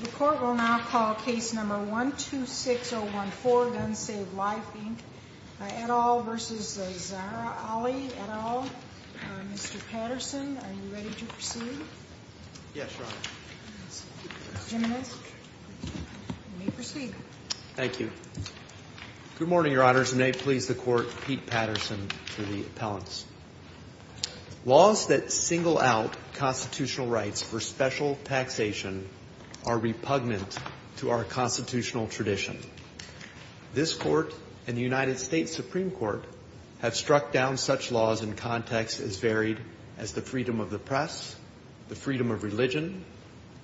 The Court will now call Case No. 126014, Guns Save Life, Inc., et al. v. Zahra Ali, et al. Mr. Patterson, are you ready to proceed? Yes, Your Honor. Mr. Jimenez, you may proceed. Thank you. Good morning, Your Honors, and may it please the Court, Pete Patterson to Laws that single out constitutional rights for special taxation are repugnant to our constitutional tradition. This Court and the United States Supreme Court have struck down such laws in contexts as varied as the freedom of the press, the freedom of religion,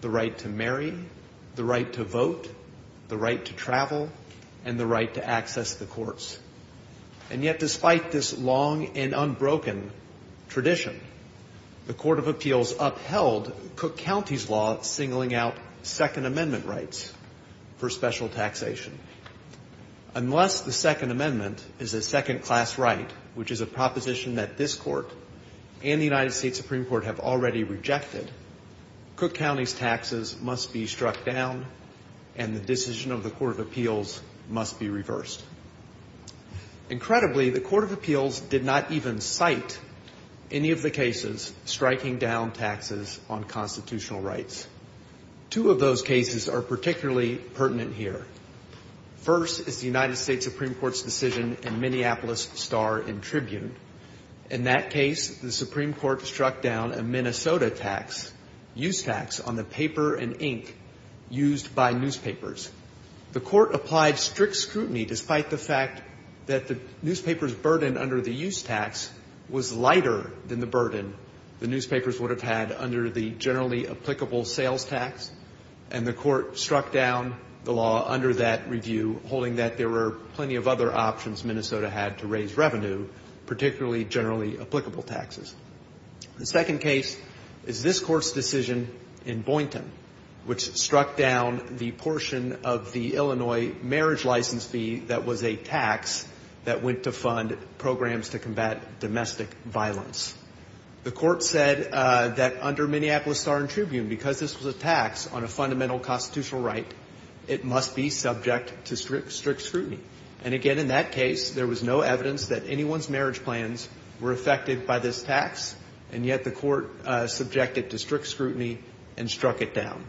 the right to marry, the right to vote, the right to travel, and the right to access the courts. And yet, despite this long and unbroken tradition, the Court of Appeals upheld Cook County's law singling out Second Amendment rights for special taxation. Unless the Second Amendment is a second-class right, which is a proposition that this Court and the United States Supreme Court have already rejected, Cook County's taxes must be struck down and the decision of the Court of Appeals must be reversed. Incredibly, the Court of Appeals did not even cite any of the cases striking down taxes on constitutional rights. Two of those cases are particularly pertinent here. First is the United States Supreme Court's decision in Minneapolis Star and Tribune. In that case, the Supreme Court struck down a Minnesota tax, use tax, on the paper and ink used by newspapers. The Court applied strict scrutiny despite the fact that the newspaper's burden under the use tax was lighter than the burden the newspapers would have had under the generally applicable sales tax, and the Court struck down the law under that review, holding that there were plenty of other options Minnesota had to raise revenue, particularly generally applicable taxes. The second case is this Court's decision in Boynton, which struck down the portion of the Illinois marriage license fee that was a tax that went to fund programs to combat domestic violence. The Court said that under Minneapolis Star and Tribune, because this was a tax on a fundamental constitutional right, it must be subject to strict scrutiny. And again, in that case, there was no evidence that anyone's marriage plans were affected by this tax, and yet the Court subjected to strict scrutiny and struck it down.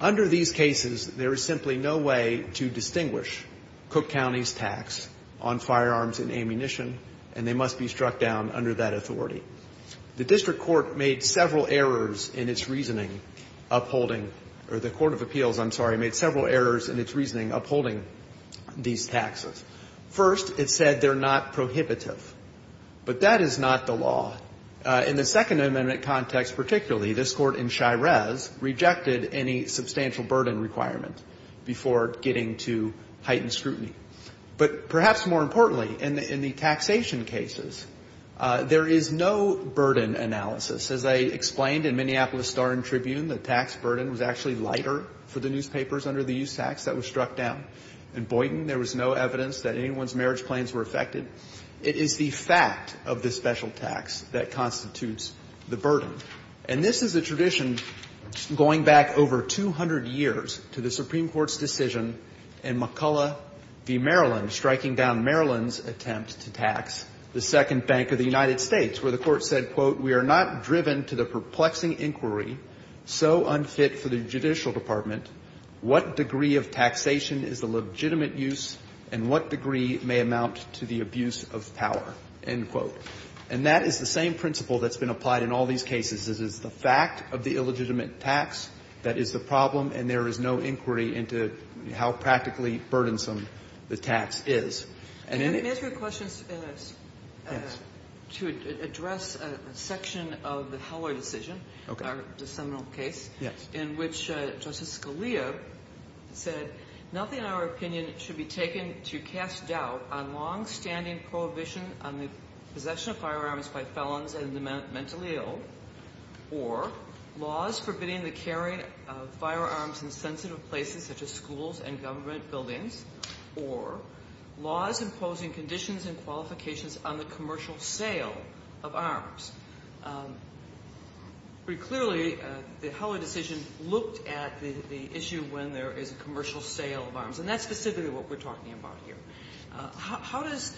Under these cases, there is simply no way to distinguish Cook County's tax on firearms and ammunition, and they must be struck down under that authority. The district court made several errors in its reasoning upholding, or the court of appeals, I'm sorry, made several errors in its reasoning upholding these taxes. First, it said they're not prohibitive. But that is not the law. In the Second Amendment context particularly, this Court in Shires rejected any substantial burden requirement before getting to heightened scrutiny. But perhaps more importantly, in the taxation cases, there is no burden analysis. As I explained in Minneapolis Star and Tribune, the tax burden was actually lighter for the newspapers under the use tax that was struck down. In this case, there was no evidence that anyone's marriage plans were affected. It is the fact of the special tax that constitutes the burden. And this is a tradition going back over 200 years to the Supreme Court's decision in McCulloch v. Maryland, striking down Maryland's attempt to tax the Second Bank of the United States, where the Court said, quote, And that is the same principle that's been applied in all these cases. It is the fact of the illegitimate tax that is the problem, and there is no inquiry into how practically burdensome the tax is. And in the end of the day, it's not a burden analysis. Kagan. And let me ask you a question to address a section of the Heller decision, the seminal case, in which Justice Scalia said, nothing in our opinion should be taken to mean to cast doubt on longstanding prohibition on the possession of firearms by felons and the mentally ill, or laws forbidding the carrying of firearms in sensitive places such as schools and government buildings, or laws imposing conditions and qualifications on the commercial sale of arms. Very clearly, the Heller decision looked at the issue when there is a commercial sale of arms, and that's specifically what we're talking about here. How does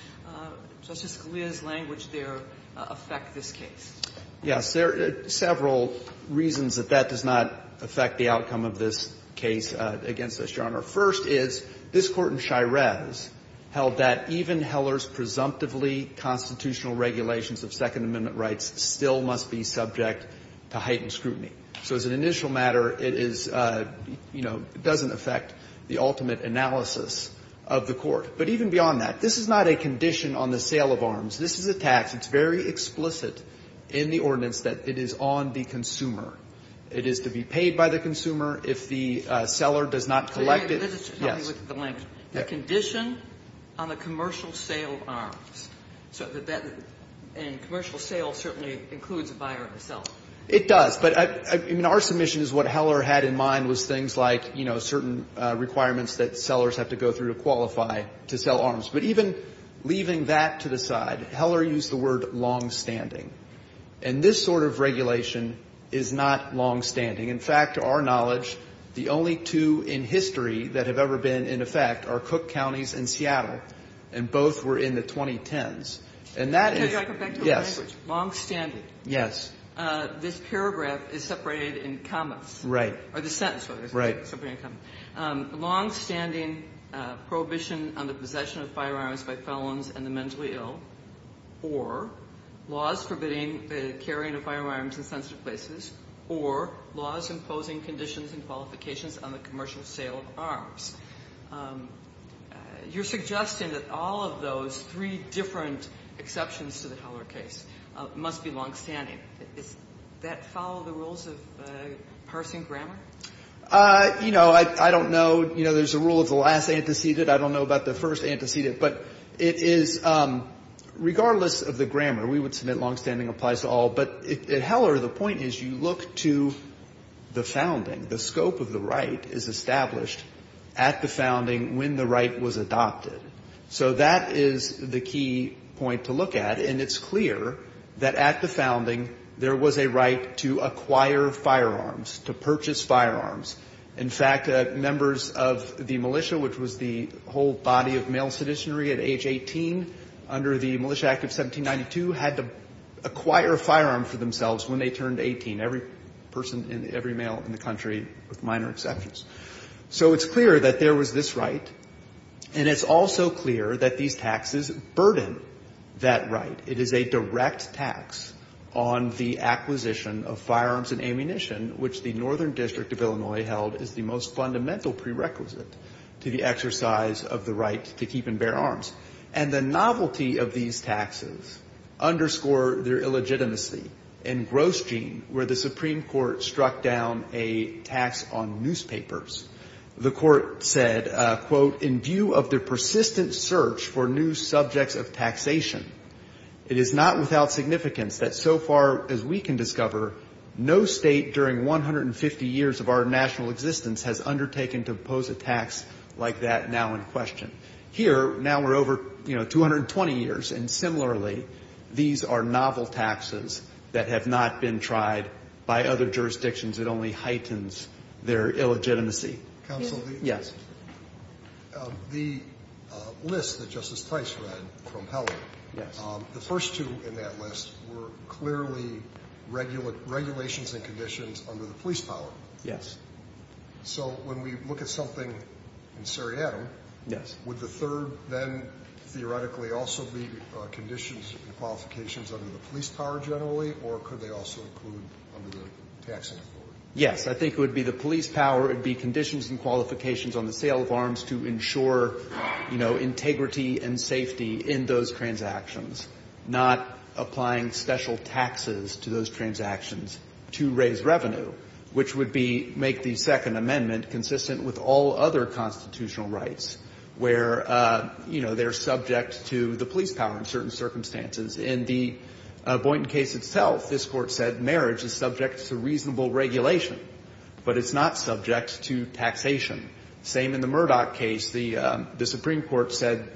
Justice Scalia's language there affect this case? Yes. There are several reasons that that does not affect the outcome of this case against this genre. First is, this Court in Shirez held that even Heller's presumptively constitutional regulations of Second Amendment rights still must be subject to heightened scrutiny. So as an initial matter, it is, you know, doesn't affect the ultimate analysis of the Court. But even beyond that, this is not a condition on the sale of arms. This is a tax. It's very explicit in the ordinance that it is on the consumer. It is to be paid by the consumer. If the seller does not collect it, yes. The condition on the commercial sale of arms. And commercial sale certainly includes a buyer and a seller. It does. But I mean, our submission is what Heller had in mind was things like, you know, certain requirements that sellers have to go through to qualify to sell arms. But even leaving that to the side, Heller used the word longstanding. And this sort of regulation is not longstanding. In fact, to our knowledge, the only two in history that have ever been in effect are Cook Counties and Seattle, and both were in the 2010s. And that is yes. Can I go back to the language? Longstanding. Yes. This paragraph is separated in commas. Right. Or the sentence, rather. Right. Longstanding prohibition on the possession of firearms by felons and the mentally ill, or laws forbidding the carrying of firearms in sensitive places, or laws imposing conditions and qualifications on the commercial sale of arms. You're suggesting that all of those three different exceptions to the Heller case must be longstanding. Does that follow the rules of parsing grammar? You know, I don't know. You know, there's a rule of the last antecedent. I don't know about the first antecedent. But it is, regardless of the grammar, we would submit longstanding applies to all. But at Heller, the point is you look to the founding. The scope of the right is established at the founding when the right was adopted. So that is the key point to look at. And it's clear that at the founding, there was a right to acquire firearms, to purchase firearms. In fact, members of the militia, which was the whole body of male seditionary at age 18, under the Militia Act of 1792, had to acquire a firearm for themselves when they turned 18. Every person, every male in the country, with minor exceptions. So it's clear that there was this right. And it's also clear that these taxes burden that right. It is a direct tax on the acquisition of firearms and ammunition, which the Northern District of Illinois held as the most fundamental prerequisite to the exercise of the right to keep and bear arms. And the novelty of these taxes underscore their illegitimacy. In Grosjean, where the Supreme Court struck down a tax on newspapers, the Court said, quote, In view of the persistent search for new subjects of taxation, it is not without significance that so far as we can discover, no State during 150 years of our national existence has undertaken to impose a tax like that now in question. Here, now we're over, you know, 220 years. And similarly, these are novel taxes that have not been tried by other jurisdictions. It only heightens their illegitimacy. Counsel? Yes. The list that Justice Tice read from Helen, the first two in that list were clearly regulations and conditions under the police power. Yes. So when we look at something in Saratoga, would the third then theoretically also be conditions and qualifications under the police power generally, or could they also include under the taxing authority? Yes. I think it would be the police power. It would be conditions and qualifications on the sale of arms to ensure, you know, integrity and safety in those transactions, not applying special taxes to those transactions to raise revenue, which would be make the Second Amendment consistent with all other constitutional rights where, you know, they're subject to the police power in certain circumstances. In the Boynton case itself, this Court said marriage is subject to reasonable regulation, but it's not subject to taxation. Same in the Murdoch case. The Supreme Court said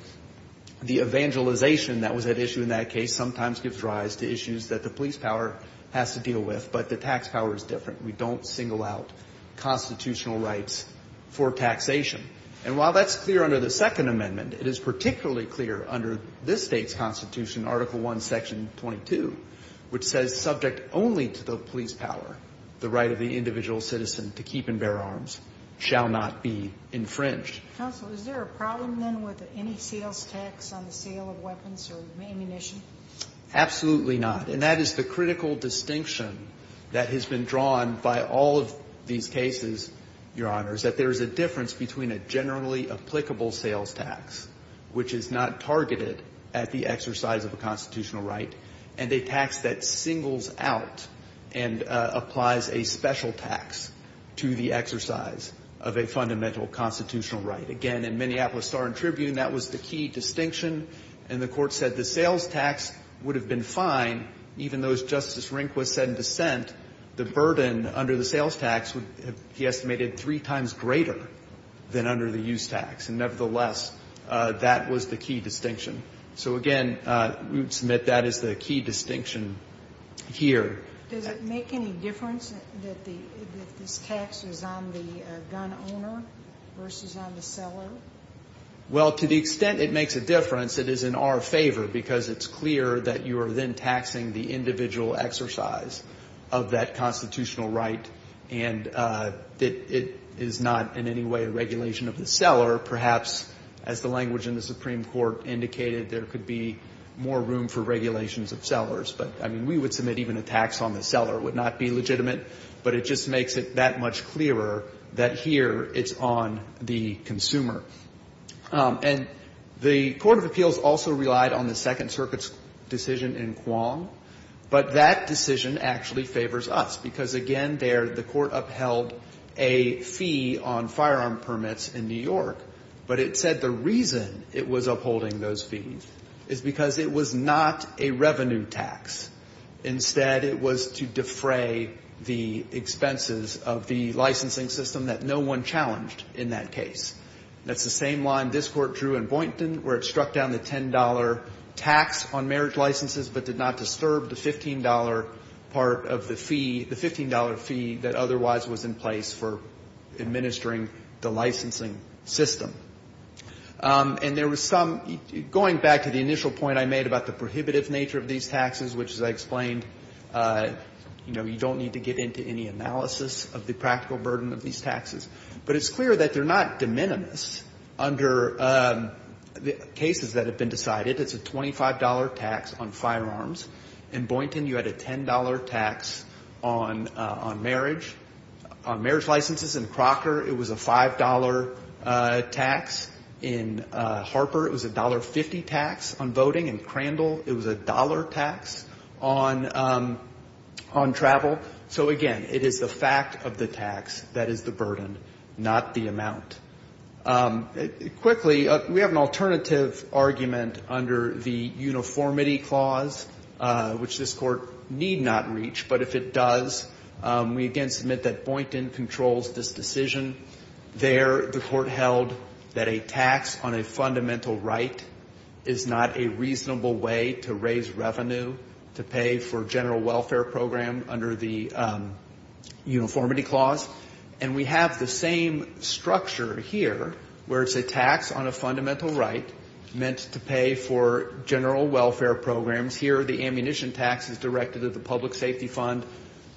the evangelization that was at issue in that case sometimes gives rise to issues that the police power has to deal with, but the tax power is different. We don't single out constitutional rights for taxation. And while that's clear under the Second Amendment, it is particularly clear under this state's constitution, Article I, Section 22, which says subject only to the police power, the right of the individual citizen to keep and bear arms shall not be infringed. Counsel, is there a problem then with any sales tax on the sale of weapons or ammunition? Absolutely not. And that is the critical distinction that has been drawn by all of these cases, Your Honors, that there is a difference between a generally applicable sales tax, which is not targeted at the exercise of a constitutional right, and a tax that singles out and applies a special tax to the exercise of a fundamental constitutional right. Again, in Minneapolis Star and Tribune, that was the key distinction, and the Court said the sales tax would have been fine even though, as Justice Rehnquist said in dissent, the burden under the sales tax would be estimated three times greater than under the use tax. And nevertheless, that was the key distinction. So, again, we would submit that as the key distinction here. Does it make any difference that this tax is on the gun owner versus on the seller? Well, to the extent it makes a difference, it is in our favor because it's clear that you are then taxing the individual exercise of that constitutional right, and that it is not in any way a regulation of the seller. Perhaps, as the language in the Supreme Court indicated, there could be more room for regulations of sellers. But, I mean, we would submit even a tax on the seller. It would not be legitimate. But it just makes it that much clearer that here it's on the consumer. And the Court of Appeals also relied on the Second Circuit's decision in Quong. But that decision actually favors us because, again, there the Court upheld a fee on firearm permits in New York. But it said the reason it was upholding those fees is because it was not a revenue tax. Instead, it was to defray the expenses of the licensing system that no one challenged in that case. That's the same line this Court drew in Boynton where it struck down the $10 tax on marriage licenses but did not disturb the $15 part of the fee, the $15 fee that otherwise was in place for administering the licensing system. And there was some, going back to the initial point I made about the prohibitive nature of these taxes, which, as I explained, you know, you don't need to get into any analysis of the practical burden of these taxes. But it's clear that they're not de minimis under the cases that have been decided. It's a $25 tax on firearms. In Boynton, you had a $10 tax on marriage, on marriage licenses. In Crocker, it was a $5 tax. In Harper, it was a $1.50 tax on voting. In Crandall, it was a dollar tax on travel. So, again, it is the fact of the tax that is the burden, not the amount. Quickly, we have an alternative argument under the uniformity clause, which this Court need not reach. But if it does, we again submit that Boynton controls this decision. There, the Court held that a tax on a fundamental right is not a reasonable way to raise revenue, to pay for general welfare program under the uniformity clause. And we have the same structure here, where it's a tax on a fundamental right meant to pay for general welfare programs. Here, the ammunition tax is directed at the public safety fund.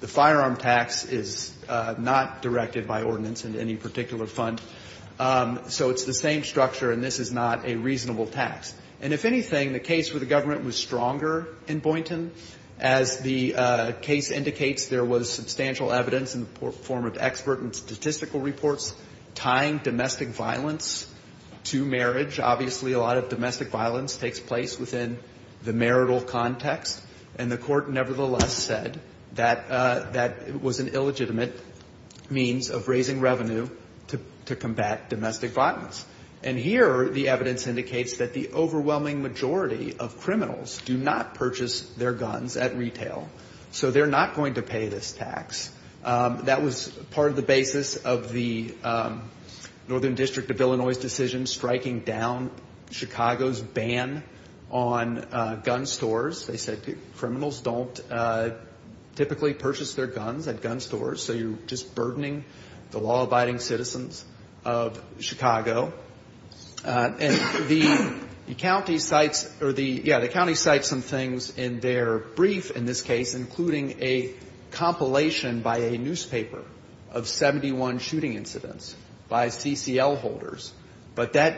The firearm tax is not directed by ordinance into any particular fund. So it's the same structure, and this is not a reasonable tax. And if anything, the case where the government was stronger in Boynton, as the case indicates, there was substantial evidence in the form of expert and statistical reports tying domestic violence to marriage. Obviously, a lot of domestic violence takes place within the marital context, and the Court nevertheless said that that was an illegitimate means of raising revenue to combat domestic violence. And here, the evidence indicates that the overwhelming majority of criminals do not purchase their guns at retail. So they're not going to pay this tax. That was part of the basis of the Northern District of Illinois' decision striking down Chicago's ban on gun stores. They said criminals don't typically purchase their guns at gun stores, so you're just And the county cites or the, yeah, the county cites some things in their brief in this case, including a compilation by a newspaper of 71 shooting incidents by CCL holders, but that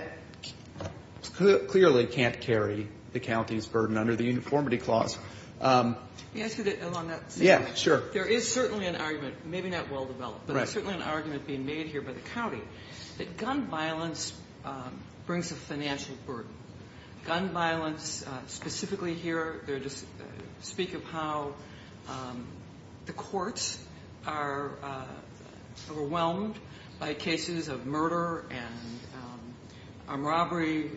clearly can't carry the county's burden under the Uniformity Clause. Let me ask you that along that same line. Yeah, sure. There is certainly an argument, maybe not well-developed, but there's certainly an argument being made here by the county that gun violence brings a financial burden. Gun violence, specifically here, they're just speak of how the courts are overwhelmed by cases of murder and robbery,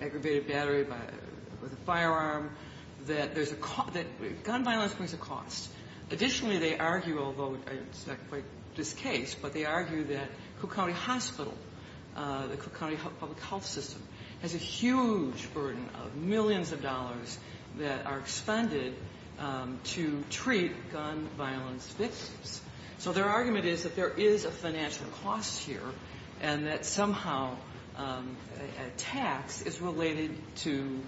aggravated battery with a firearm, that there's a gun violence brings a cost. Additionally, they argue, although it's not quite this case, but they argue that Cook County Hospital, the Cook County Public Health System, has a huge burden of millions of dollars that are expended to treat gun violence victims. So their argument is that there is a financial cost here and that somehow a tax is related to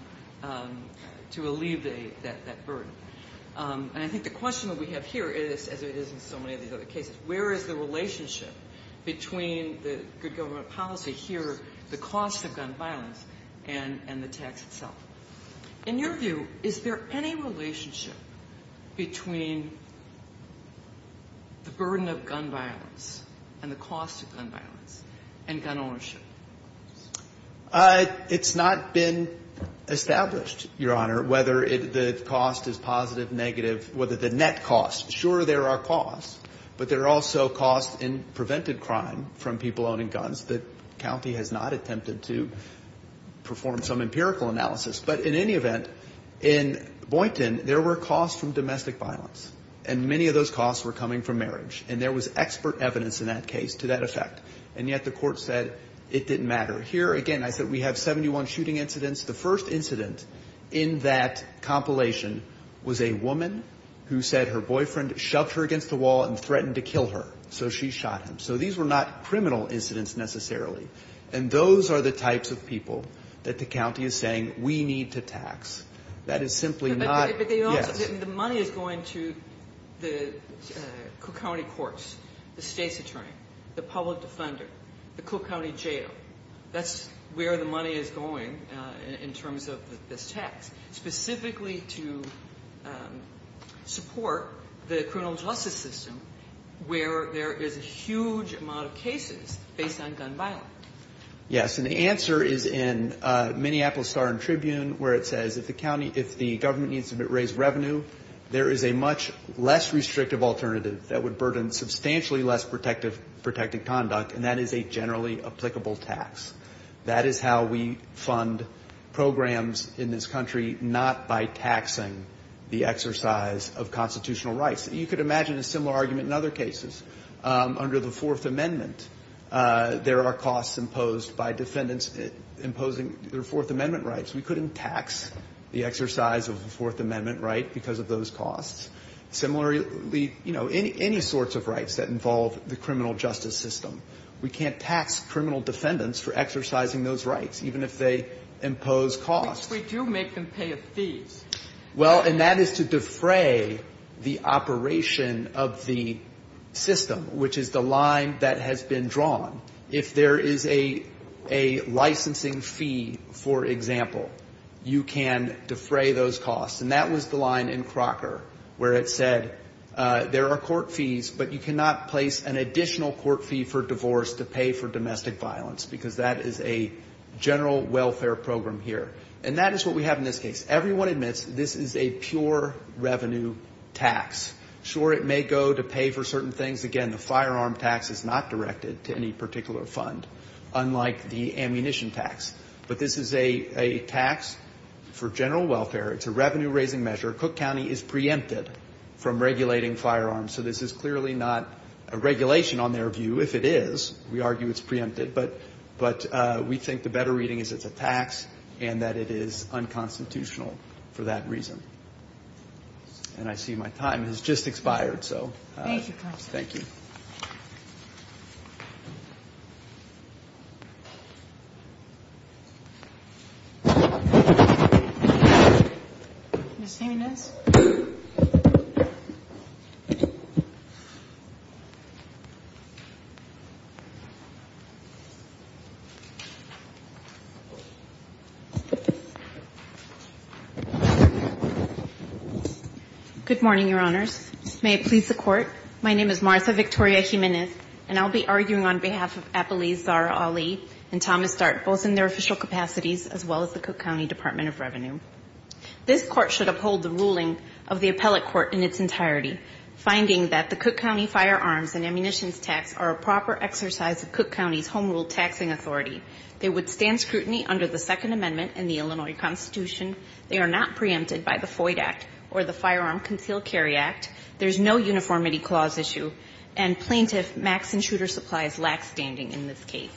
alleviate that burden. And I think the question that we have here is, as it is in so many of these other cases, where is the relationship between the good government policy here, the cost of gun violence, and the tax itself? In your view, is there any relationship between the burden of gun violence and the cost of gun violence and gun ownership? It's not been established, Your Honor, whether the cost is positive, negative, whether the net cost. Sure, there are costs, but there are also costs in prevented crime from people owning guns that county has not attempted to perform some empirical analysis. But in any event, in Boynton, there were costs from domestic violence, and many of those costs were coming from marriage. And there was expert evidence in that case to that effect. And yet the court said it didn't matter. Here, again, I said we have 71 shooting incidents. The first incident in that compilation was a woman who said her boyfriend shoved her against the wall and threatened to kill her. So she shot him. So these were not criminal incidents necessarily. And those are the types of people that the county is saying we need to tax. That is simply not yes. But the money is going to the county courts, the state's attorney, the public defender, the Cook County Jail. That's where the money is going in terms of this tax, specifically to support the criminal justice system where there is a huge amount of cases based on gun violence. Yes. And the answer is in Minneapolis Star and Tribune where it says if the county needs to raise revenue, there is a much less restrictive alternative that would burden substantially less protected conduct, and that is a generally applicable tax. That is how we fund programs in this country, not by taxing the exercise of constitutional rights. You could imagine a similar argument in other cases. Under the Fourth Amendment, there are costs imposed by defendants imposing their Fourth Amendment rights. We couldn't tax the exercise of the Fourth Amendment right because of those costs. Similarly, you know, any sorts of rights that involve the criminal justice system, we can't tax criminal defendants for exercising those rights, even if they impose costs. We do make them pay a fee. Well, and that is to defray the operation of the system, which is the line that has been drawn. If there is a licensing fee, for example, you can defray those costs. And that was the line in Crocker where it said there are court fees, but you cannot place an additional court fee for divorce to pay for domestic violence because that is a general welfare program here. And that is what we have in this case. Everyone admits this is a pure revenue tax. Sure, it may go to pay for certain things. Again, the firearm tax is not directed to any particular fund, unlike the ammunition tax. But this is a tax for general welfare. It's a revenue-raising measure. Cook County is preempted from regulating firearms. So this is clearly not a regulation on their view. If it is, we argue it's preempted. But we think the better reading is it's a tax and that it is unconstitutional for that reason. And I see my time has just expired. So thank you. Thank you. Good morning, Your Honors. May it please the Court. My name is Martha Victoria Jimenez, and I'll be arguing on behalf of Appalese Zahra Ali and Thomas Dart, both in their official capacities, as well as the Cook County Department of Revenue. This Court should uphold the ruling of the appellate court in its entirety, finding that the Cook County firearms and ammunitions tax are a proper exercise of Cook County's home rule taxing authority. They withstand scrutiny under the Second Amendment and the Illinois Constitution. They are not preempted by the FOID Act or the Firearm Concealed Carry Act. There's no uniformity clause issue. And plaintiff max and shooter supplies lack standing in this case.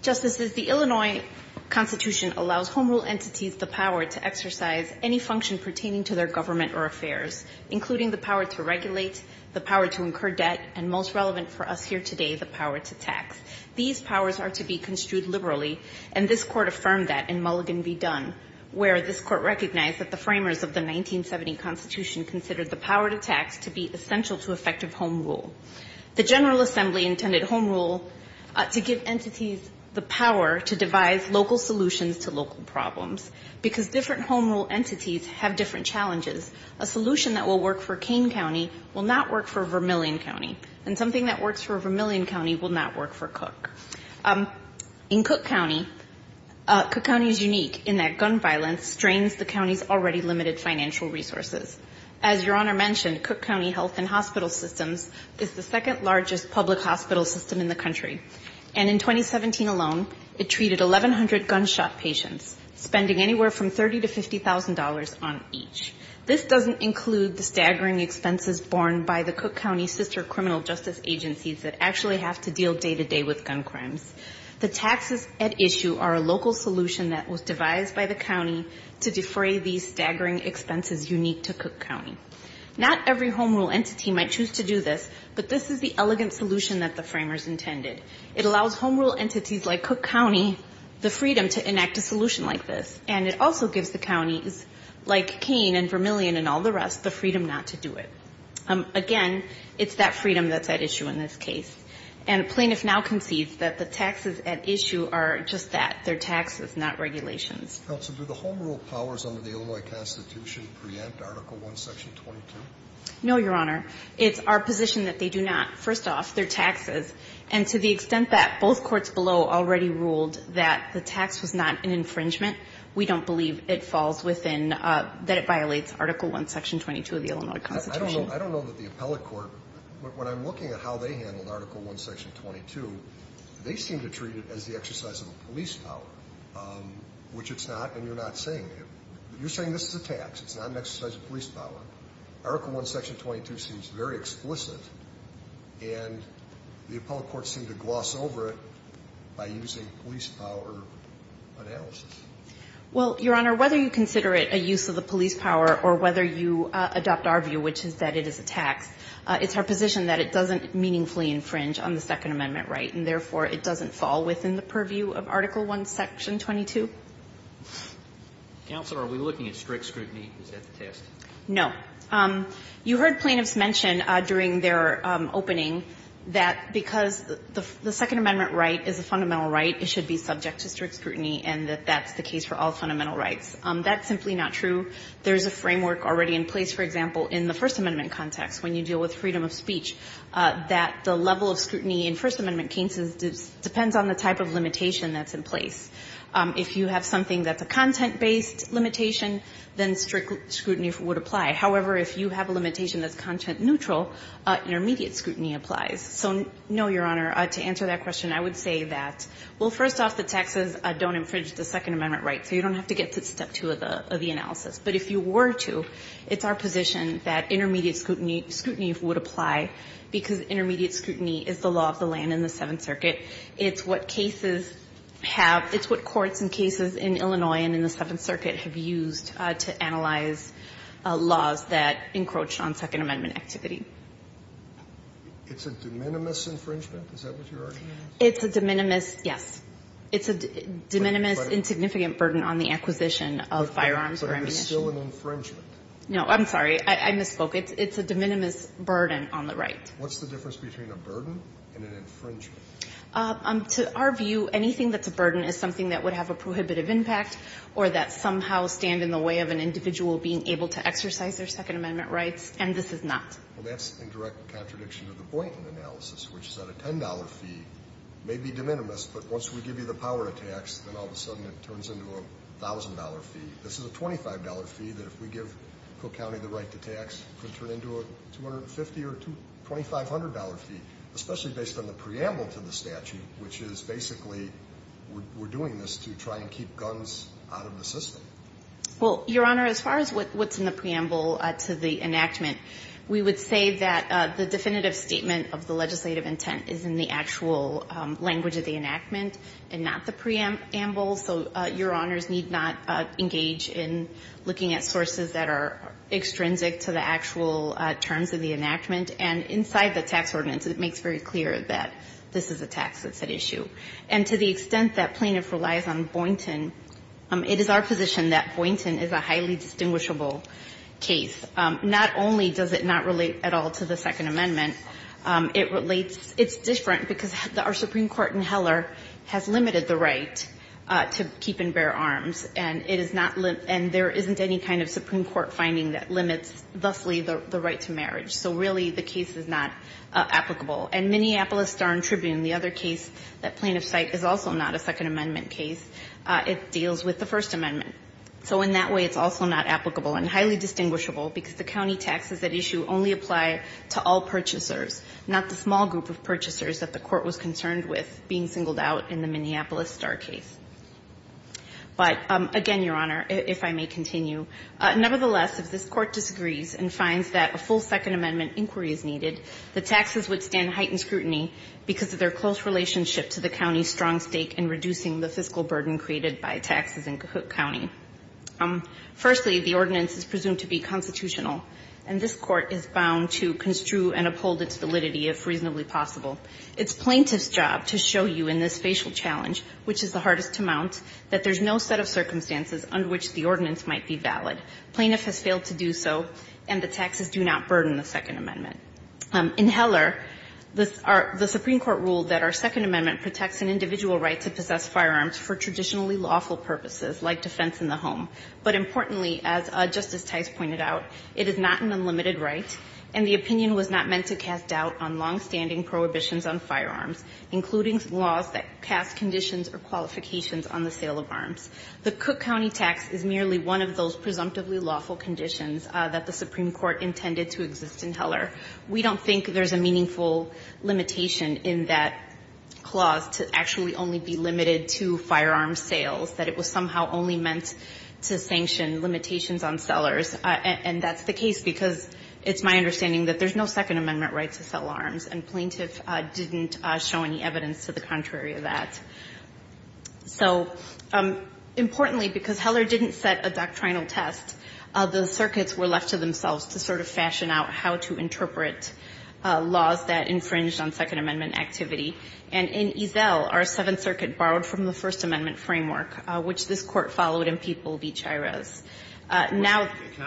Justices, the Illinois Constitution allows home rule entities the power to exercise any function pertaining to their government or affairs, including the power to regulate, the power to incur debt, and most relevant for us here today, the power to tax. These powers are to be construed liberally, and this Court affirmed that in Mulligan where this Court recognized that the framers of the 1970 Constitution considered the power to tax to be essential to effective home rule. The General Assembly intended home rule to give entities the power to devise local solutions to local problems, because different home rule entities have different challenges. A solution that will work for Kane County will not work for Vermilion County, and something that works for Vermilion County will not work for Cook. In Cook County, Cook County is unique in that gun violence strains the county's already limited financial resources. As Your Honor mentioned, Cook County Health and Hospital Systems is the second largest public hospital system in the country. And in 2017 alone, it treated 1,100 gunshot patients, spending anywhere from $30,000 to $50,000 on each. This doesn't include the staggering expenses borne by the Cook County Sister agencies that actually have to deal day-to-day with gun crimes. The taxes at issue are a local solution that was devised by the county to defray these staggering expenses unique to Cook County. Not every home rule entity might choose to do this, but this is the elegant solution that the framers intended. It allows home rule entities like Cook County the freedom to enact a solution like this, and it also gives the counties like Kane and Vermilion and all the rest the freedom not to do it. Again, it's that freedom that's at issue in this case. And plaintiffs now concede that the taxes at issue are just that, they're taxes, not regulations. Counsel, do the home rule powers under the Illinois Constitution preempt Article 1, Section 22? No, Your Honor. It's our position that they do not. First off, they're taxes. And to the extent that both courts below already ruled that the tax was not an infringement, we don't believe it falls within, that it violates Article 1, Section 22 of the Illinois Constitution. I don't know that the appellate court, when I'm looking at how they handled Article 1, Section 22, they seem to treat it as the exercise of a police power, which it's not, and you're not saying it. You're saying this is a tax, it's not an exercise of police power. Article 1, Section 22 seems very explicit, and the appellate courts seem to gloss over it by using police power analysis. Well, Your Honor, whether you consider it a use of the police power or whether you adopt our view, which is that it is a tax, it's our position that it doesn't meaningfully infringe on the Second Amendment right, and therefore it doesn't fall within the purview of Article 1, Section 22. Counsel, are we looking at strict scrutiny? Is that the test? No. You heard plaintiffs mention during their opening that because the Second Amendment right is a fundamental right, it should be subject to strict scrutiny, and that that's the case for all fundamental rights. That's simply not true. There's a framework already in place, for example, in the First Amendment context when you deal with freedom of speech, that the level of scrutiny in First Amendment cases depends on the type of limitation that's in place. If you have something that's a content-based limitation, then strict scrutiny would apply. However, if you have a limitation that's content-neutral, intermediate scrutiny applies. So no, Your Honor, to answer that question, I would say that, well, first off, the taxes don't infringe the Second Amendment right, so you don't have to get to step two of the analysis. But if you were to, it's our position that intermediate scrutiny would apply, because intermediate scrutiny is the law of the land in the Seventh Circuit. It's what cases have – it's what courts and cases in Illinois and in the Seventh Circuit have used to analyze laws that encroach on Second Amendment activity. It's a de minimis infringement? Is that what you're arguing? It's a de minimis, yes. It's a de minimis insignificant burden on the acquisition of firearms or ammunition. But it is still an infringement. No, I'm sorry. I misspoke. It's a de minimis burden on the right. What's the difference between a burden and an infringement? To our view, anything that's a burden is something that would have a prohibitive impact or that somehow stand in the way of an individual being able to exercise their Second Amendment rights, and this is not. Well, that's in direct contradiction to the Boynton analysis, which said a $10 fee may be de minimis, but once we give you the power to tax, then all of a sudden it turns into a $1,000 fee. This is a $25 fee that if we give Cook County the right to tax could turn into a $250 or $2,500 fee, especially based on the preamble to the statute, which is basically we're doing this to try and keep guns out of the system. Well, Your Honor, as far as what's in the preamble to the enactment, we would say that the definitive statement of the legislative intent is in the actual language of the enactment and not the preamble, so Your Honors need not engage in looking at sources that are extrinsic to the actual terms of the enactment, and inside the tax ordinance it makes very clear that this is a tax that's at issue. And to the extent that plaintiff relies on Boynton, it is our position that Boynton is a highly distinguishable case. Not only does it not relate at all to the Second Amendment, it relates – it's different because our Supreme Court in Heller has limited the right to keep and bear arms, and it is not – and there isn't any kind of Supreme Court finding that limits thusly the right to marriage. So really the case is not applicable. And Minneapolis Star and Tribune, the other case that plaintiff's cite is also not a Second Amendment case, it deals with the First Amendment. So in that way, it's also not applicable and highly distinguishable because the county taxes at issue only apply to all purchasers, not the small group of purchasers that the Court was concerned with being singled out in the Minneapolis Star case. But again, Your Honor, if I may continue, nevertheless, if this Court disagrees and finds that a full Second Amendment inquiry is needed, the taxes would stand in heightened scrutiny because of their close relationship to the county's strong stake in reducing the fiscal burden created by taxes in Cahoot County. Firstly, the ordinance is presumed to be constitutional, and this Court is bound to construe and uphold its validity if reasonably possible. It's plaintiff's job to show you in this facial challenge, which is the hardest to mount, that there's no set of circumstances under which the ordinance might be valid. Plaintiff has failed to do so, and the taxes do not burden the Second Amendment. In Heller, the Supreme Court ruled that our Second Amendment protects an individual right to possess firearms for traditionally lawful purposes like defense in the home. But importantly, as Justice Tice pointed out, it is not an unlimited right, and the opinion was not meant to cast doubt on longstanding prohibitions on firearms, including laws that cast conditions or qualifications on the sale of arms. The Cook County tax is merely one of those presumptively lawful conditions that the Supreme Court intended to exist in Heller. We don't think there's a meaningful limitation in that clause to actually only be limited to firearms sales, that it was somehow only meant to sanction limitations on sellers. And that's the case because it's my understanding that there's no Second Amendment right to sell arms, and plaintiff didn't show any evidence to the contrary of that. So importantly, because Heller didn't set a doctrinal test, the circuits were left to themselves to sort of fashion out how to interpret laws that infringed on Second Amendment activity. And in Ezell, our Seventh Circuit borrowed from the First Amendment framework, which this Court followed in People v. Chirez. Now the ----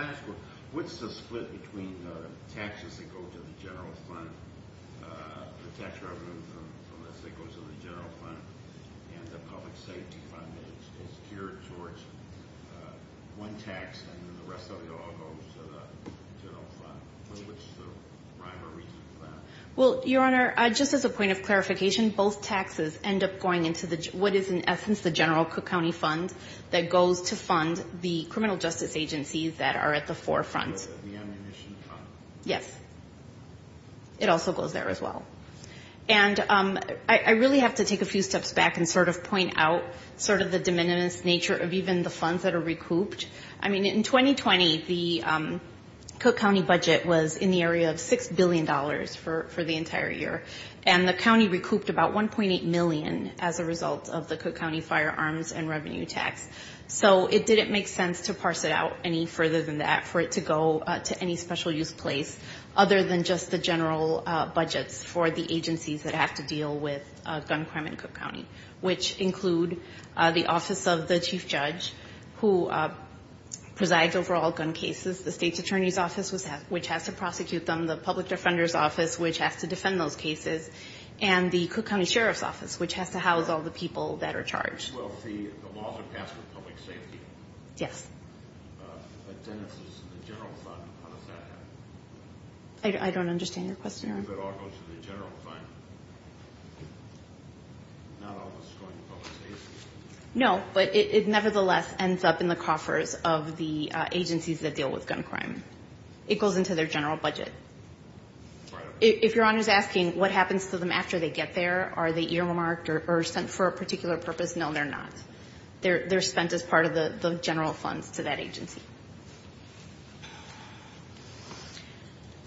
Well, Your Honor, just as a point of clarification, both taxes end up going into what is in essence the general Cook County fund that goes to fund the criminal justice agencies that are at the forefront. The ammunition fund. Yes. It also goes there as well. And I really have to take a few steps back and sort of point out sort of the de minimis nature of even the funds that are recouped. I mean, in 2020, the Cook County budget was in the area of $6 billion for the entire year, and the county recouped about $1.8 million as a result of the Cook County firearms and revenue tax. So it didn't make sense to parse it out any further than that for it to go to any special use place other than just the general budgets for the agencies that have to deal with gun crime in Cook County, which include the Office of the Chief Judge who presides over all gun cases, the State's Attorney's Office, which has to prosecute them, the Public Defender's Office, which has to defend those cases, and the Cook County Sheriff's Office, which has to house all the people that are charged. Well, the laws are passed with public safety. Yes. If it all goes to the general fund, how does that happen? I don't understand your question, Your Honor. If it all goes to the general fund, not all the strong public safety? No, but it nevertheless ends up in the coffers of the agencies that deal with gun crime. It goes into their general budget. Right. If Your Honor's asking what happens to them after they get there, are they earmarked or sent for a particular purpose, no, they're not. They're spent as part of the general funds to that agency.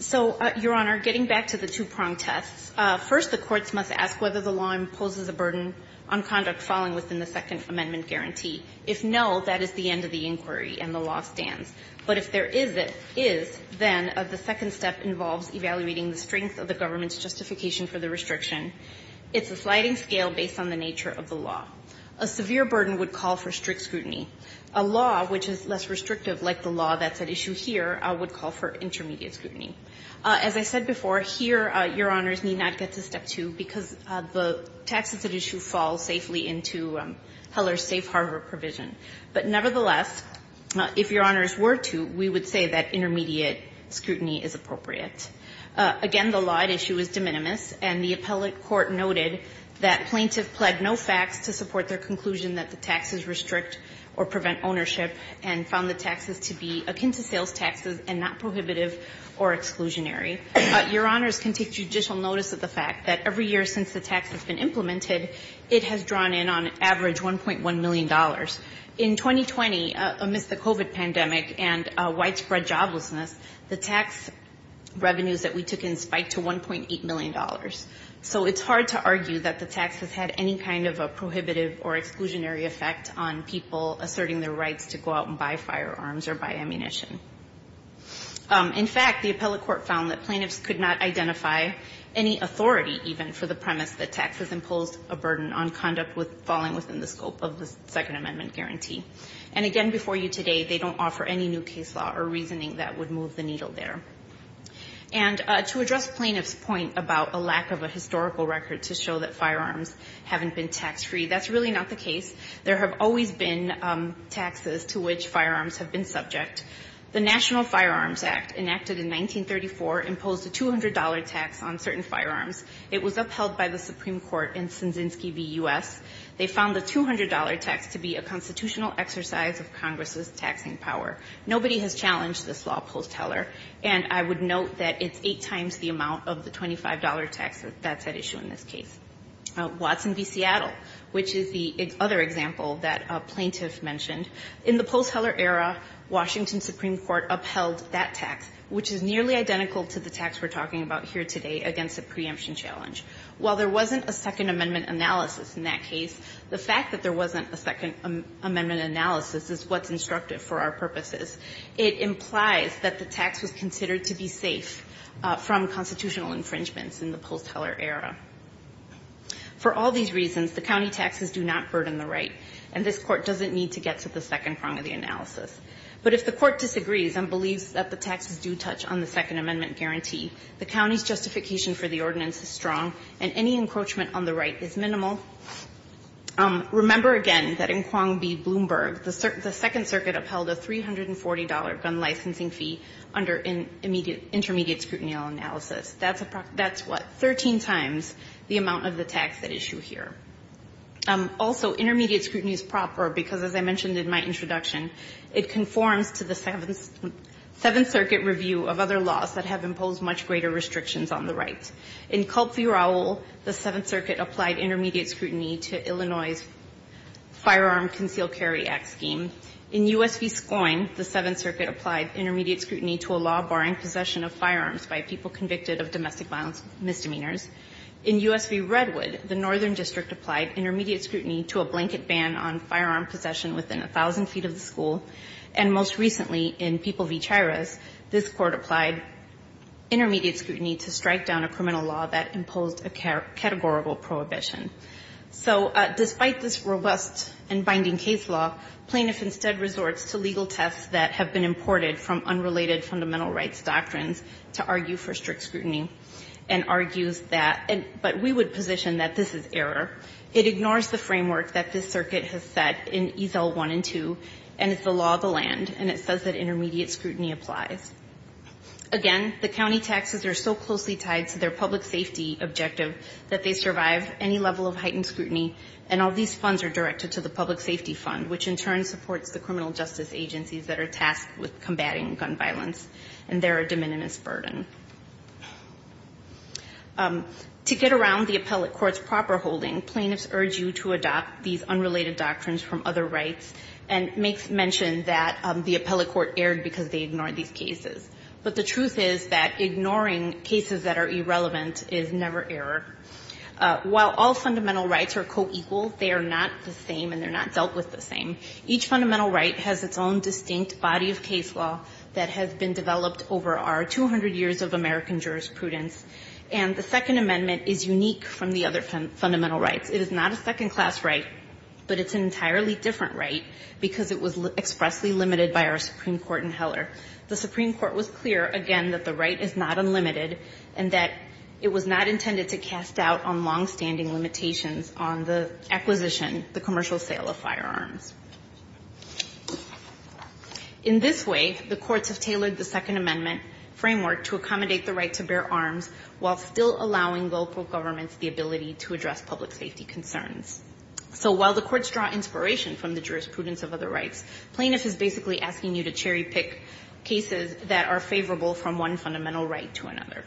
So, Your Honor, getting back to the two-pronged tests, first the courts must ask whether the law imposes a burden on conduct falling within the Second Amendment guarantee. If no, that is the end of the inquiry and the law stands. But if there is, then the second step involves evaluating the strength of the government's justification for the restriction. It's a sliding scale based on the nature of the law. A severe burden would call for strict scrutiny. A law which is less restrictive, like the law that's at issue here, would call for intermediate scrutiny. As I said before, here Your Honors need not get to step two because the taxes at issue fall safely into Heller's safe harbor provision. But nevertheless, if Your Honors were to, we would say that intermediate scrutiny is appropriate. Again, the law at issue is de minimis, and the appellate court noted that plaintiffs pled no facts to support their conclusion that the taxes restrict or prevent ownership and found the taxes to be akin to sales taxes and not prohibitive or exclusionary. Your Honors can take judicial notice of the fact that every year since the tax has been implemented, it has drawn in on average $1.1 million. In 2020, amidst the COVID pandemic and widespread joblessness, the tax revenues that we took in spiked to $1.8 million. So it's hard to argue that the tax has had any kind of a prohibitive or exclusionary effect on people asserting their rights to go out and buy firearms or buy ammunition. In fact, the appellate court found that plaintiffs could not identify any authority even for the premise that taxes imposed a burden on conduct with falling within the scope of the Second Amendment guarantee. And again, before you today, they don't offer any new case law or reasoning that would move the needle there. And to address plaintiff's point about a lack of a historical record to show that firearms haven't been tax-free, that's really not the case. There have always been taxes to which firearms have been subject. The National Firearms Act, enacted in 1934, imposed a $200 tax on certain firearms. It was upheld by the Supreme Court in Sinzinski v. U.S. They found the $200 tax to be a constitutional exercise of Congress's taxing power. Nobody has challenged this law post-Heller. And I would note that it's eight times the amount of the $25 tax that's at issue in this case. Watson v. Seattle, which is the other example that a plaintiff mentioned, in the post-Heller era, Washington Supreme Court upheld that tax, which is nearly identical to the tax we're talking about here today against the preemption challenge. While there wasn't a Second Amendment analysis in that case, the fact that there wasn't a Second Amendment analysis is what's instructive for our purposes. It implies that the tax was considered to be safe from constitutional infringements in the post-Heller era. For all these reasons, the county taxes do not burden the right, and this Court doesn't need to get to the second prong of the analysis. But if the Court disagrees and believes that the taxes do touch on the Second Amendment guarantee, the county's justification for the ordinance is strong, and any encroachment on the right is minimal. Remember again that in Quang B. Bloomberg, the Second Circuit upheld a $340 gun licensing fee under intermediate scrutiny analysis. That's what, 13 times the amount of the tax at issue here. Also, intermediate scrutiny is proper because, as I mentioned in my introduction, it conforms to the Seventh Circuit review of other laws that have imposed much greater restrictions on the right. In Culp v. Raul, the Seventh Circuit applied intermediate scrutiny to Illinois' Firearm Concealed Carry Act scheme. In U.S. v. Scoyne, the Seventh Circuit applied intermediate scrutiny to a law barring possession of firearms by people convicted of domestic violence misdemeanors. In U.S. v. Redwood, the Northern District applied intermediate scrutiny to a blanket ban on firearm possession within 1,000 feet of the school. And most recently, in People v. Chiras, this Court applied intermediate scrutiny to strike down a criminal law that imposed a categorical prohibition. So despite this robust and binding case law, plaintiff instead resorts to legal tests that have been imported from unrelated fundamental rights doctrines to argue for strict scrutiny and argues that, but we would position that this is error. It ignores the framework that this Circuit has set in Ezel 1 and 2, and it's the law of the land, and it says that intermediate scrutiny applies. Again, the county taxes are so closely tied to their public safety objective that they survive any level of heightened scrutiny, and all these funds are directed to the Public Safety Fund, which in turn supports the criminal justice agencies that are tasked with combating gun violence, and they're a de minimis burden. To get around the appellate court's proper holding, plaintiffs urge you to adopt these unrelated doctrines from other rights and make mention that the appellate court erred because they ignored these cases. But the truth is that ignoring cases that are irrelevant is never error. While all fundamental rights are co-equal, they are not the same and they're not dealt with the same. Each fundamental right has its own distinct body of case law that has been developed over our 200 years of American jurisprudence. And the Second Amendment is unique from the other fundamental rights. It is not a second-class right, but it's an entirely different right because it was expressly limited by our Supreme Court in Heller. The Supreme Court was clear, again, that the right is not unlimited and that it was not intended to cast doubt on long-standing limitations on the acquisition, the commercial sale of firearms. In this way, the courts have tailored the Second Amendment framework to accommodate the right to bear arms while still allowing local governments the ability to address public safety concerns. So while the courts draw inspiration from the jurisprudence of other rights, plaintiffs are basically asking you to cherry-pick cases that are favorable from one fundamental right to another.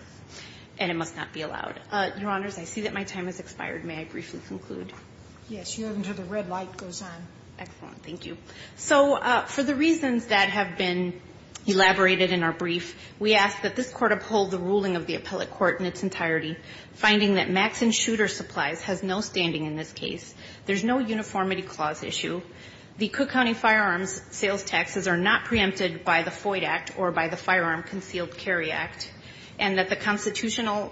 And it must not be allowed. Your Honors, I see that my time has expired. May I briefly conclude? Sotomayor. Yes. You have until the red light goes on. Excellent. Thank you. So for the reasons that have been elaborated in our brief, we ask that this Court uphold the ruling of the appellate court in its entirety, finding that Max and Shooter Supplies has no standing in this case. There's no uniformity clause issue. The Cook County Firearms Sales Taxes are not preempted by the FOID Act or by the Firearm Concealed Carry Act. And that the constitutional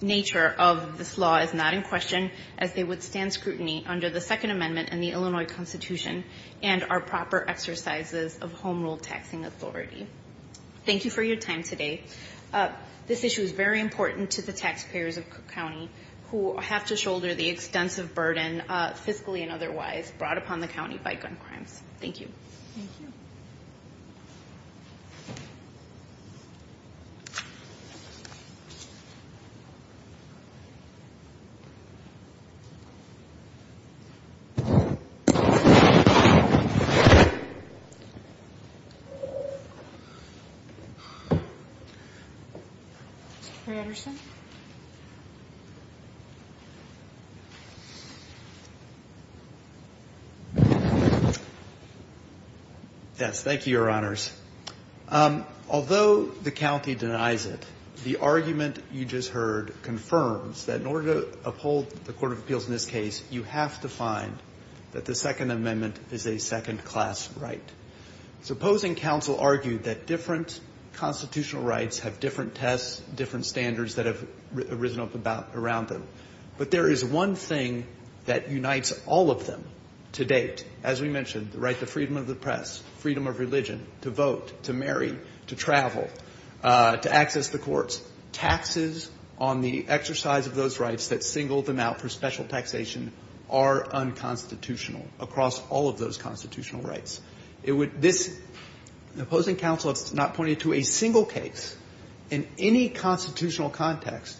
nature of this law is not in question as they withstand scrutiny under the Second Amendment and the Illinois Constitution and are proper exercises of home rule taxing authority. Thank you for your time today. This issue is very important to the taxpayers of Cook County who have to shoulder the extensive burden, fiscally and otherwise, brought upon the county by gun crimes. Thank you. Thank you. Mr. Anderson? Yes. Thank you, Your Honors. Although the county denies it, the argument you just heard confirms that in order to uphold the Court of Appeals in this case, you have to find that the Second Amendment is a second-class right. Supposing counsel argued that different constitutional rights have different tests, different standards that have arisen up around them, but there is one thing that unites all of them to date. As we mentioned, the right to freedom of the press, freedom of religion, to vote, to marry, to travel, to access the courts. Taxes on the exercise of those rights that single them out for special taxation are unconstitutional across all of those constitutional rights. It would this the opposing counsel has not pointed to a single case in any constitutional context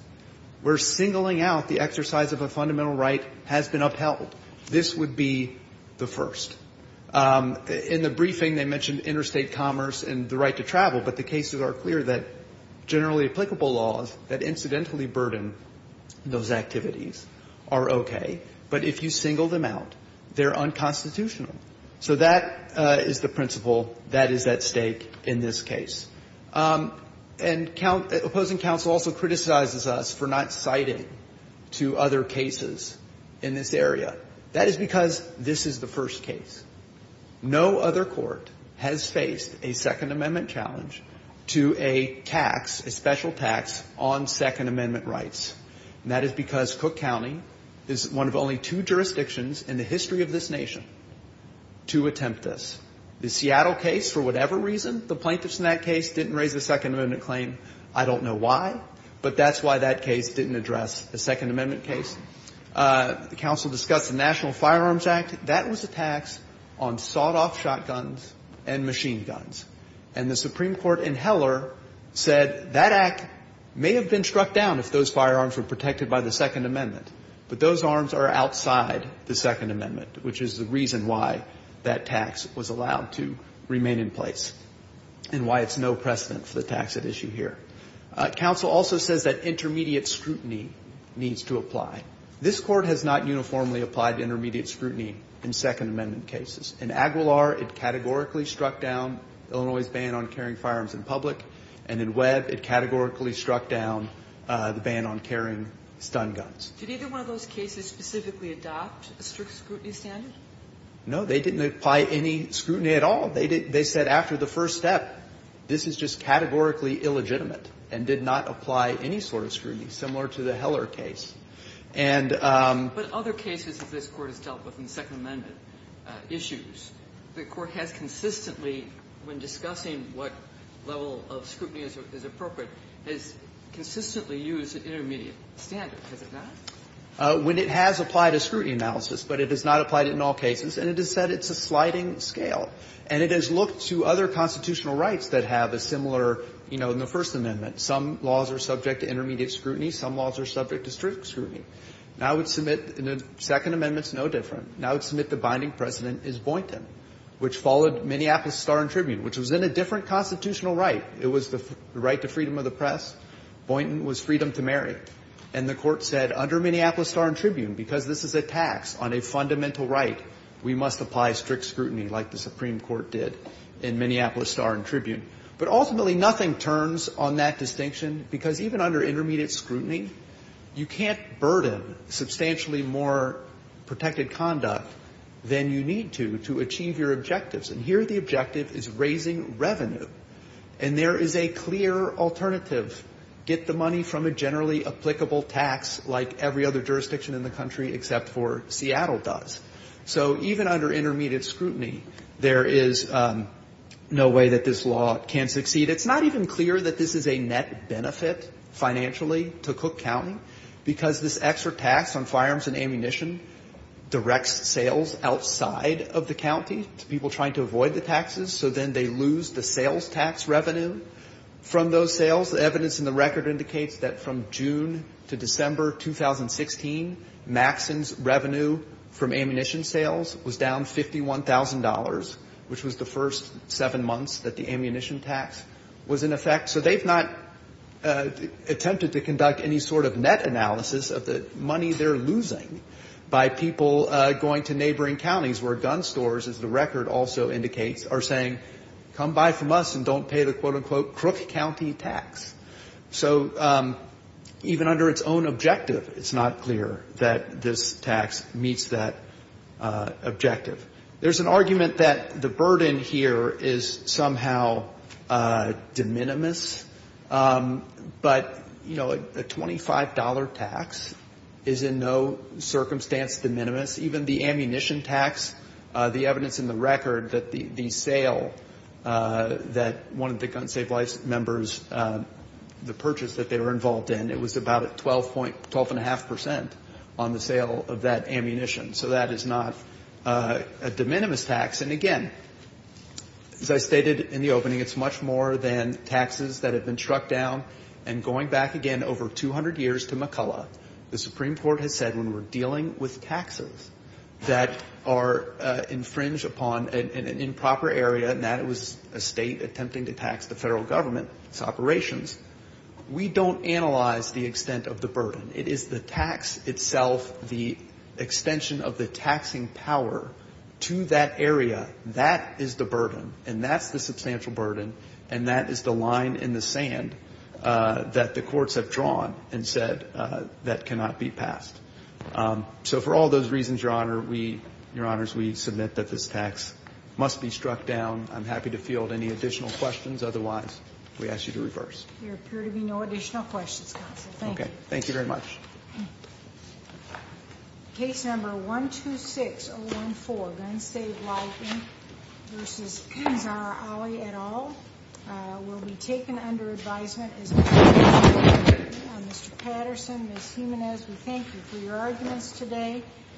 where singling out the exercise of a fundamental right has been upheld. This would be the first. In the briefing, they mentioned interstate commerce and the right to travel, but the cases are clear that generally applicable laws that incidentally burden those activities are okay. But if you single them out, they're unconstitutional. So that is the principle that is at stake in this case. And opposing counsel also criticizes us for not citing two other cases in this area. That is because this is the first case. No other court has faced a Second Amendment challenge to a tax, a special tax, on Second Amendment rights. And that is because Cook County is one of only two jurisdictions in the history of this nation to attempt this. The Seattle case, for whatever reason, the plaintiffs in that case didn't raise a Second Amendment claim. I don't know why, but that's why that case didn't address the Second Amendment case. The counsel discussed the National Firearms Act. That was a tax on sawed-off shotguns and machine guns. And the Supreme Court in Heller said that act may have been struck down if those firearms were protected by the Second Amendment, but those arms are outside the Second Amendment, which is the reason why that tax was allowed to remain in place and why it's no precedent for the tax at issue here. Counsel also says that intermediate scrutiny needs to apply. This court has not uniformly applied intermediate scrutiny in Second Amendment cases. In Aguilar, it categorically struck down Illinois' ban on carrying firearms in public. And in Webb, it categorically struck down the ban on carrying stun guns. Did either one of those cases specifically adopt a strict scrutiny standard? No. They didn't apply any scrutiny at all. They said after the first step, this is just categorically illegitimate and did not apply any sort of scrutiny, similar to the Heller case. And the other cases that this Court has dealt with in Second Amendment issues, the Court has consistently, when discussing what level of scrutiny is appropriate, has consistently used an intermediate standard. Has it not? When it has applied a scrutiny analysis, but it has not applied it in all cases, and it has said it's a sliding scale. And it has looked to other constitutional rights that have a similar, you know, in the First Amendment. Some laws are subject to intermediate scrutiny. Some laws are subject to strict scrutiny. Now it would submit the Second Amendment is no different. Now it would submit the binding precedent is Boynton, which followed Minneapolis Star and Tribune, which was in a different constitutional right. It was the right to freedom of the press. Boynton was freedom to marry. And the Court said under Minneapolis Star and Tribune, because this is a tax on a fundamental right, we must apply strict scrutiny like the Supreme Court did in Minneapolis Star and Tribune. But ultimately nothing turns on that distinction, because even under intermediate scrutiny, you can't burden substantially more protected conduct than you need to, to achieve your objectives. And here the objective is raising revenue. And there is a clear alternative, get the money from a generally applicable tax like every other jurisdiction in the country except for Seattle does. So even under intermediate scrutiny, there is no way that this law can succeed. It's not even clear that this is a net benefit financially to Cook County, because this extra tax on firearms and ammunition directs sales outside of the county to people trying to avoid the taxes. So then they lose the sales tax revenue from those sales. The evidence in the record indicates that from June to December 2016, Maxson's revenue from ammunition sales was down $51,000, which was the first seven months that the ammunition tax was in effect. So they've not attempted to conduct any sort of net analysis of the money they're also indicates are saying, come buy from us and don't pay the, quote, unquote, Crook County tax. So even under its own objective, it's not clear that this tax meets that objective. There's an argument that the burden here is somehow de minimis. But, you know, a $25 tax is in no circumstance de minimis. Even the ammunition tax, the evidence in the record that the sale that one of the Gun Save Lives members, the purchase that they were involved in, it was about 12.5 percent on the sale of that ammunition. So that is not a de minimis tax. And, again, as I stated in the opening, it's much more than taxes that have been struck down. And going back again over 200 years to McCullough, the Supreme Court has said when we're dealing with taxes that are infringed upon an improper area, and that was a State attempting to tax the Federal government, its operations, we don't analyze the extent of the burden. It is the tax itself, the extension of the taxing power to that area. That is the burden, and that's the substantial burden, and that is the line in the So for all those reasons, Your Honor, we, Your Honors, we submit that this tax must be struck down. I'm happy to field any additional questions. Otherwise, we ask you to reverse. There appear to be no additional questions, Counsel. Thank you. Okay. Thank you very much. Okay. Case number 126014, Gun Save Lives v. Kinsar Ali et al. will be taken under advisement as of today. Mr. Patterson, Ms. Jimenez, we thank you for your arguments today.